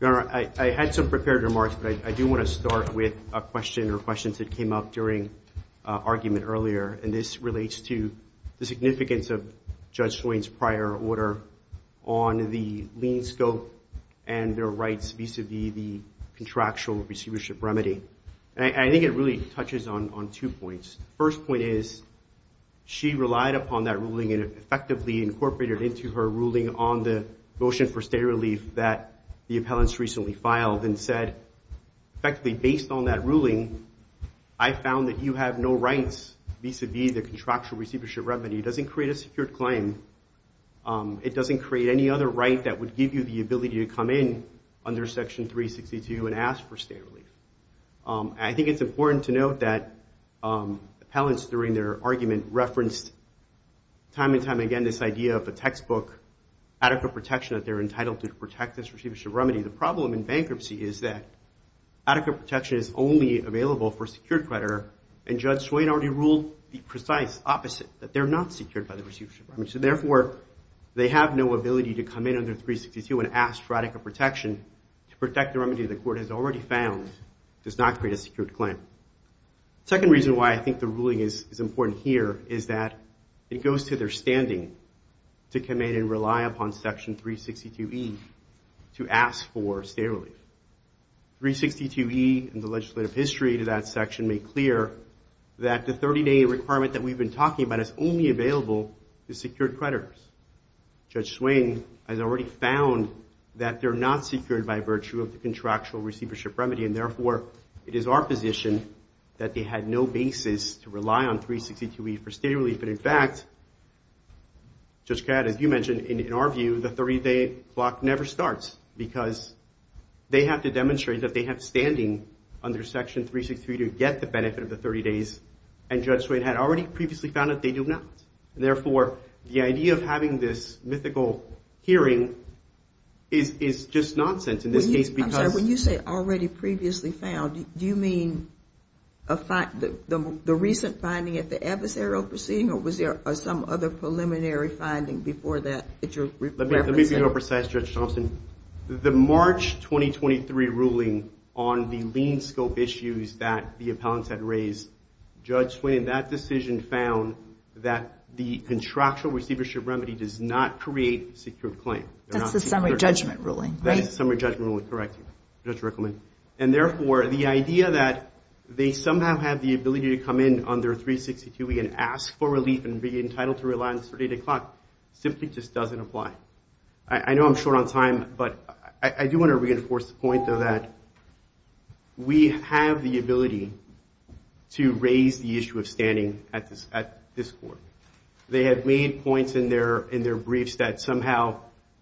Your Honor, I had some prepared remarks, but I do want to start with a question or questions that came up during argument earlier, and this relates to the significance of Judge Swain's prior order on the lien scope and their rights vis-à-vis the contractual receivership remedy. And I think it really touches on two points. The first point is she relied upon that ruling and effectively incorporated it into her ruling on the motion for stay relief that the appellants recently filed and said, effectively, based on that ruling, I found that you have no rights vis-à-vis the contractual receivership remedy. It doesn't create a secured claim. It doesn't create any other right that would give you the ability to come in under Section 362 and ask for stay relief. I think it's important to note that appellants during their argument referenced time and time again this idea of a textbook adequate protection that they're entitled to protect this receivership remedy. The problem in bankruptcy is that adequate protection is only available for a secured creditor, and Judge Swain already ruled the precise opposite, that they're not secured by the receivership remedy. So therefore, they have no ability to come in under 362 and ask for adequate protection to protect the remedy the court has already found does not create a secured claim. The second reason why I think the ruling is important here is that it goes to their standing to come in and rely upon Section 362E to ask for stay relief. 362E and the legislative history to that section make clear that the 30-day requirement that we've been talking about is only available to secured creditors. Judge Swain has already found that they're not secured by virtue of the contractual receivership remedy, and therefore, it is our position that they had no basis to rely on 362E for stay relief. And in fact, Judge Catt, as you mentioned, in our view, the 30-day block never starts because they have to demonstrate that they have standing under Section 362E to get the benefit of the 30 days, and Judge Swain had already previously found that they do not. Therefore, the idea of having this mythical hearing is just nonsense in this case because— I'm sorry, when you say already previously found, do you mean the recent finding at the adversarial proceeding, or was there some other preliminary finding before that that you're referencing? Let me be more precise, Judge Thompson. The March 2023 ruling on the lien scope issues that the appellants had raised, Judge Swain, that decision found that the contractual receivership remedy does not create secured claim. That's the summary judgment ruling, right? That is the summary judgment ruling, correct, Judge Rickleman. And therefore, the idea that they somehow have the ability to come in under 362E and ask for relief and be entitled to rely on the 30-day clock simply just doesn't apply. I know I'm short on time, but I do want to reinforce the point, though, that we have the ability to raise the issue of standing at this court. They have made points in their briefs that somehow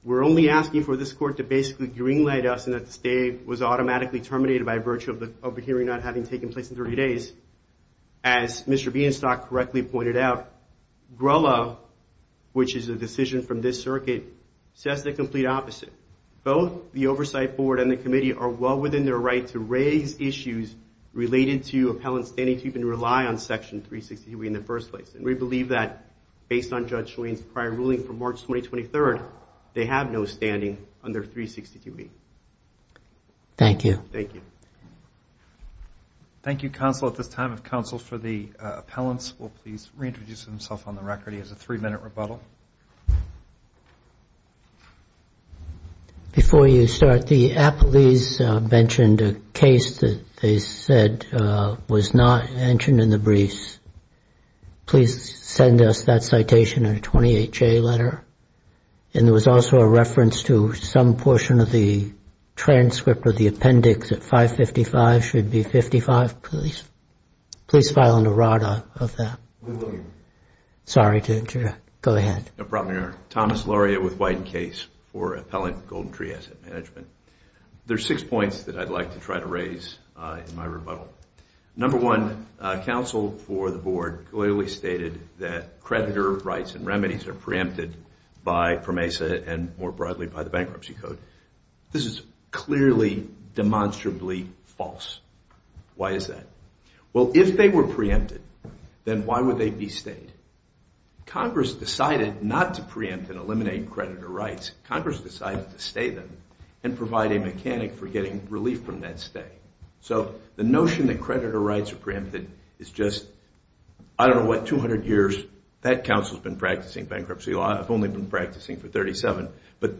we're only asking for this court to basically green-light us and that the stay was automatically terminated by virtue of the hearing not having taken place in 30 days. As Mr. Bienstock correctly pointed out, GROLA, which is a decision from this circuit, says the complete opposite. Both the Oversight Board and the Committee are well within their right to raise issues related to appellants standing to even rely on Section 362E in the first place. And we believe that based on Judge Schoen's prior ruling from March 2023, they have no standing under 362E. Thank you. Thank you. Thank you, counsel, at this time. If counsel for the appellants will please reintroduce himself on the record. He has a three-minute rebuttal. Before you start, the appellees mentioned a case that they said was not mentioned in the briefs. Please send us that citation in a 28-J letter. And there was also a reference to some portion of the transcript or the appendix at 555 should be 55. Please file an errata of that. We will, Your Honor. Sorry to interrupt. Go ahead. No problem, Your Honor. Thomas Lauria with White Case for Appellant Golden Tree Asset Management. There are six points that I'd like to try to raise in my rebuttal. Number one, counsel for the board clearly stated that creditor rights and remedies are preempted by PROMESA and more broadly by the Bankruptcy Code. This is clearly demonstrably false. Why is that? Well, if they were preempted, then why would they be stayed? Congress decided not to preempt and eliminate creditor rights. Congress decided to stay them and provide a mechanic for getting relief from that stay. So the notion that creditor rights are preempted is just, I don't know what, 200 years. That counsel has been practicing bankruptcy law. I've only been practicing for 37. But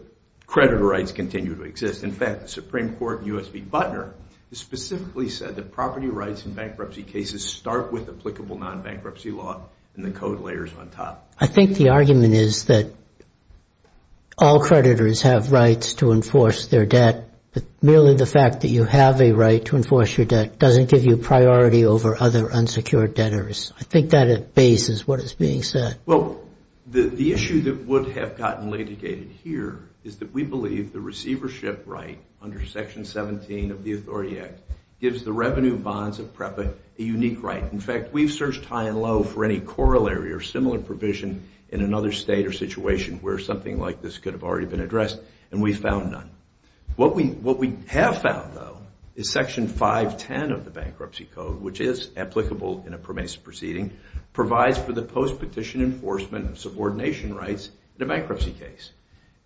creditor rights continue to exist. In fact, the Supreme Court, U.S. v. Butner, specifically said that property rights in bankruptcy cases start with applicable non-bankruptcy law and the code layers on top. I think the argument is that all creditors have rights to enforce their debt. But merely the fact that you have a right to enforce your debt doesn't give you priority over other unsecured debtors. I think that at base is what is being said. Well, the issue that would have gotten litigated here is that we believe the receivership right under Section 17 of the Authority Act gives the revenue bonds of PREPA a unique right. In fact, we've searched high and low for any corollary or similar provision in another state or situation where something like this could have already been addressed, and we found none. What we have found, though, is Section 510 of the Bankruptcy Code, which is applicable in a PROMESA proceeding, provides for the post-petition enforcement of subordination rights in a bankruptcy case.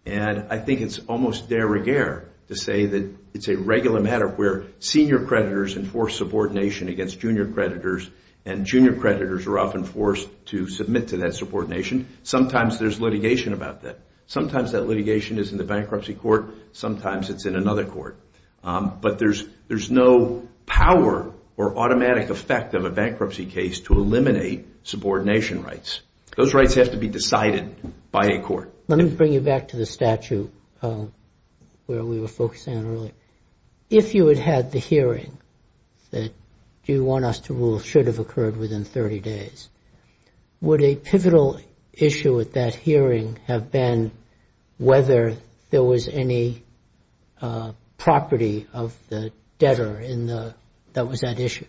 And I think it's almost de rigueur to say that it's a regular matter where senior creditors enforce subordination against junior creditors, and junior creditors are often forced to submit to that subordination. Sometimes there's litigation about that. Sometimes that litigation is in the bankruptcy court. Sometimes it's in another court. But there's no power or automatic effect of a bankruptcy case to eliminate subordination rights. Those rights have to be decided by a court. Let me bring you back to the statute where we were focusing on earlier. If you had had the hearing that you want us to rule should have occurred within 30 days, would a pivotal issue at that hearing have been whether there was any property of the debtor that was at issue?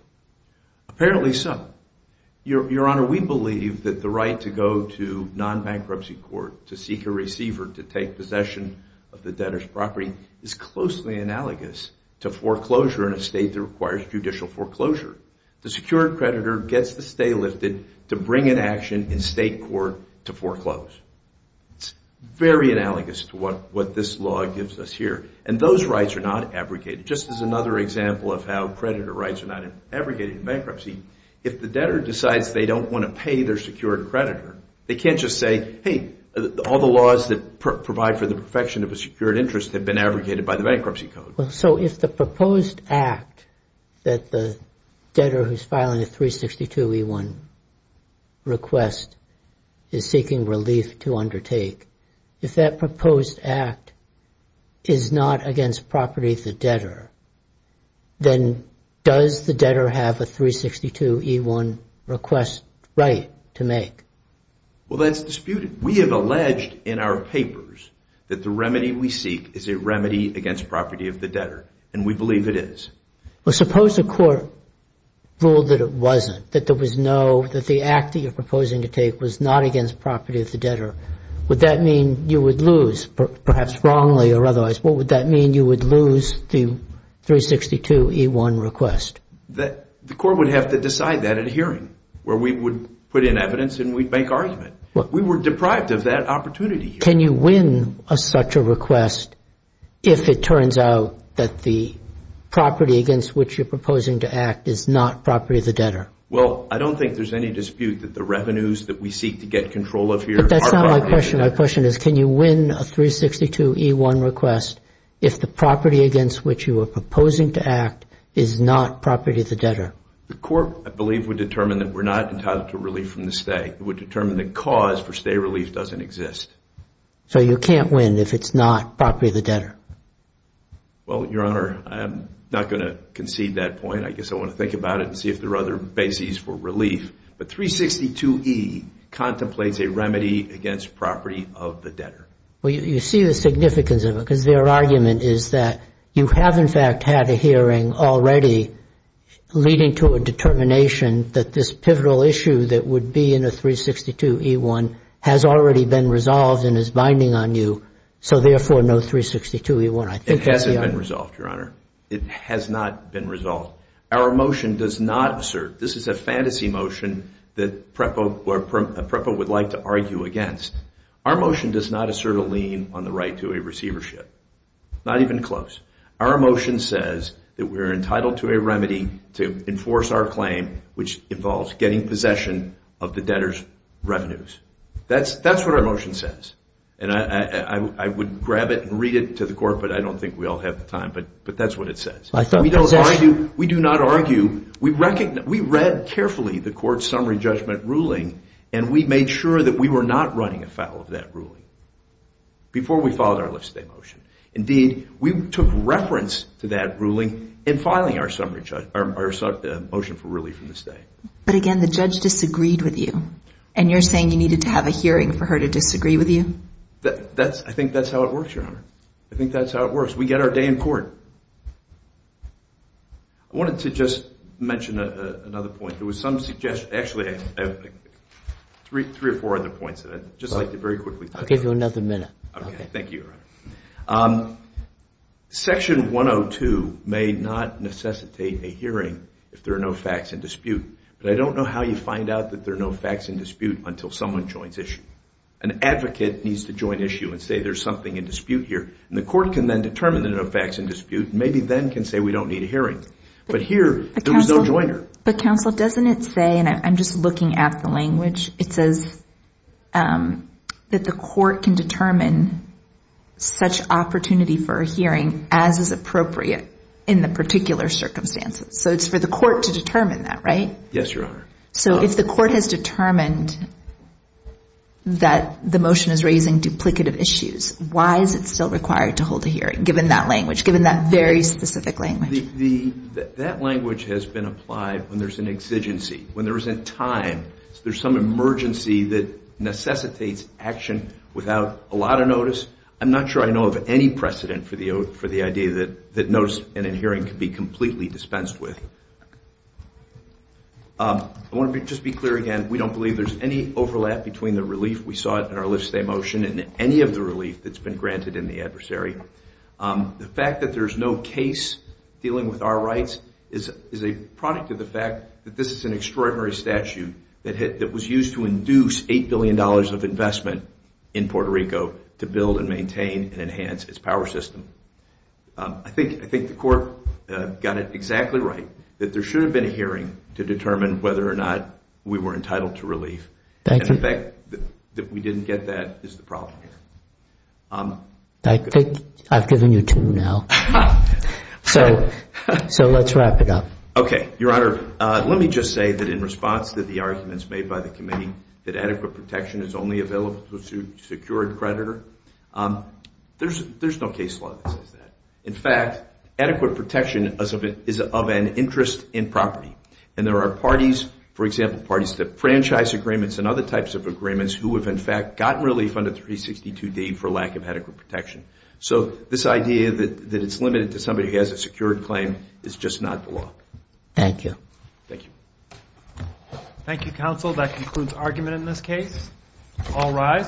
Apparently so. Your Honor, we believe that the right to go to non-bankruptcy court, to seek a receiver to take possession of the debtor's property, is closely analogous to foreclosure in a state that requires judicial foreclosure. The secured creditor gets the stay lifted to bring an action in state court to foreclose. It's very analogous to what this law gives us here. And those rights are not abrogated. Just as another example of how creditor rights are not abrogated in bankruptcy, if the debtor decides they don't want to pay their secured creditor, they can't just say, hey, all the laws that provide for the perfection of a secured interest have been abrogated by the bankruptcy code. Well, so if the proposed act that the debtor who's filing a 362e1 request is seeking relief to undertake, if that proposed act is not against property of the debtor, then does the debtor have a 362e1 request right to make? Well, that's disputed. We have alleged in our papers that the remedy we seek is a remedy against property of the debtor, and we believe it is. Well, suppose the court ruled that it wasn't, that there was no, that the act that you're proposing to take was not against property of the debtor. Would that mean you would lose, perhaps wrongly or otherwise, what would that mean you would lose the 362e1 request? The court would have to decide that at a hearing where we would put in evidence and we'd make argument. We were deprived of that opportunity. Can you win such a request if it turns out that the property against which you're proposing to act is not property of the debtor? Well, I don't think there's any dispute that the revenues that we seek to get control of here are property of the debtor. But that's not my question. My question is can you win a 362e1 request if the property against which you are proposing to act is not property of the debtor? The court, I believe, would determine that we're not entitled to relief from the state. It would determine the cause for state relief doesn't exist. So you can't win if it's not property of the debtor? Well, Your Honor, I'm not going to concede that point. I guess I want to think about it and see if there are other bases for relief. But 362e contemplates a remedy against property of the debtor. Well, you see the significance of it because their argument is that you have, in fact, had a hearing already leading to a determination that this pivotal issue that would be in a 362e1 has already been resolved and is binding on you. So, therefore, no 362e1. It hasn't been resolved, Your Honor. It has not been resolved. Our motion does not assert. This is a fantasy motion that PREPA would like to argue against. Our motion does not assert a lien on the right to a receivership, not even close. Our motion says that we're entitled to a remedy to enforce our claim, which involves getting possession of the debtor's revenues. That's what our motion says. And I would grab it and read it to the court, but I don't think we all have the time. But that's what it says. We do not argue. We read carefully the court's summary judgment ruling, and we made sure that we were not running afoul of that ruling before we followed our lift-today motion. Indeed, we took reference to that ruling in filing our motion for relief from this day. But, again, the judge disagreed with you, and you're saying you needed to have a hearing for her to disagree with you? I think that's how it works, Your Honor. I think that's how it works. We get our day in court. I wanted to just mention another point. There was some suggestion – actually, three or four other points, and I'd just like to very quickly – I'll give you another minute. Okay. Thank you, Your Honor. Section 102 may not necessitate a hearing if there are no facts in dispute. But I don't know how you find out that there are no facts in dispute until someone joins issue. An advocate needs to join issue and say there's something in dispute here, and the court can then determine there are no facts in dispute and maybe then can say we don't need a hearing. But here, there was no joiner. But, counsel, doesn't it say – and I'm just looking at the language – it says that the court can determine such opportunity for a hearing as is appropriate in the particular circumstances. So it's for the court to determine that, right? Yes, Your Honor. So if the court has determined that the motion is raising duplicative issues, why is it still required to hold a hearing, given that language, given that very specific language? That language has been applied when there's an exigency, when there isn't time. There's some emergency that necessitates action without a lot of notice. I'm not sure I know of any precedent for the idea that notice in a hearing can be completely dispensed with. I want to just be clear again. We don't believe there's any overlap between the relief we saw in our lift-stay motion and any of the relief that's been granted in the adversary. The fact that there's no case dealing with our rights is a product of the fact that this is an extraordinary statute that was used to induce $8 billion of investment in Puerto Rico to build and maintain and enhance its power system. I think the court got it exactly right, that there should have been a hearing to determine whether or not we were entitled to relief. And the fact that we didn't get that is the problem. I think I've given you two now. So let's wrap it up. Okay. Your Honor, let me just say that in response to the arguments made by the committee that adequate protection is only available to a secured creditor, there's no case law that says that. In fact, adequate protection is of an interest in property. And there are parties, for example, parties to franchise agreements and other types of agreements who have, in fact, gotten relief under 362D for lack of adequate protection. So this idea that it's limited to somebody who has a secured claim is just not the law. Thank you. Thank you. Thank you, counsel. That concludes argument in this case. All rise.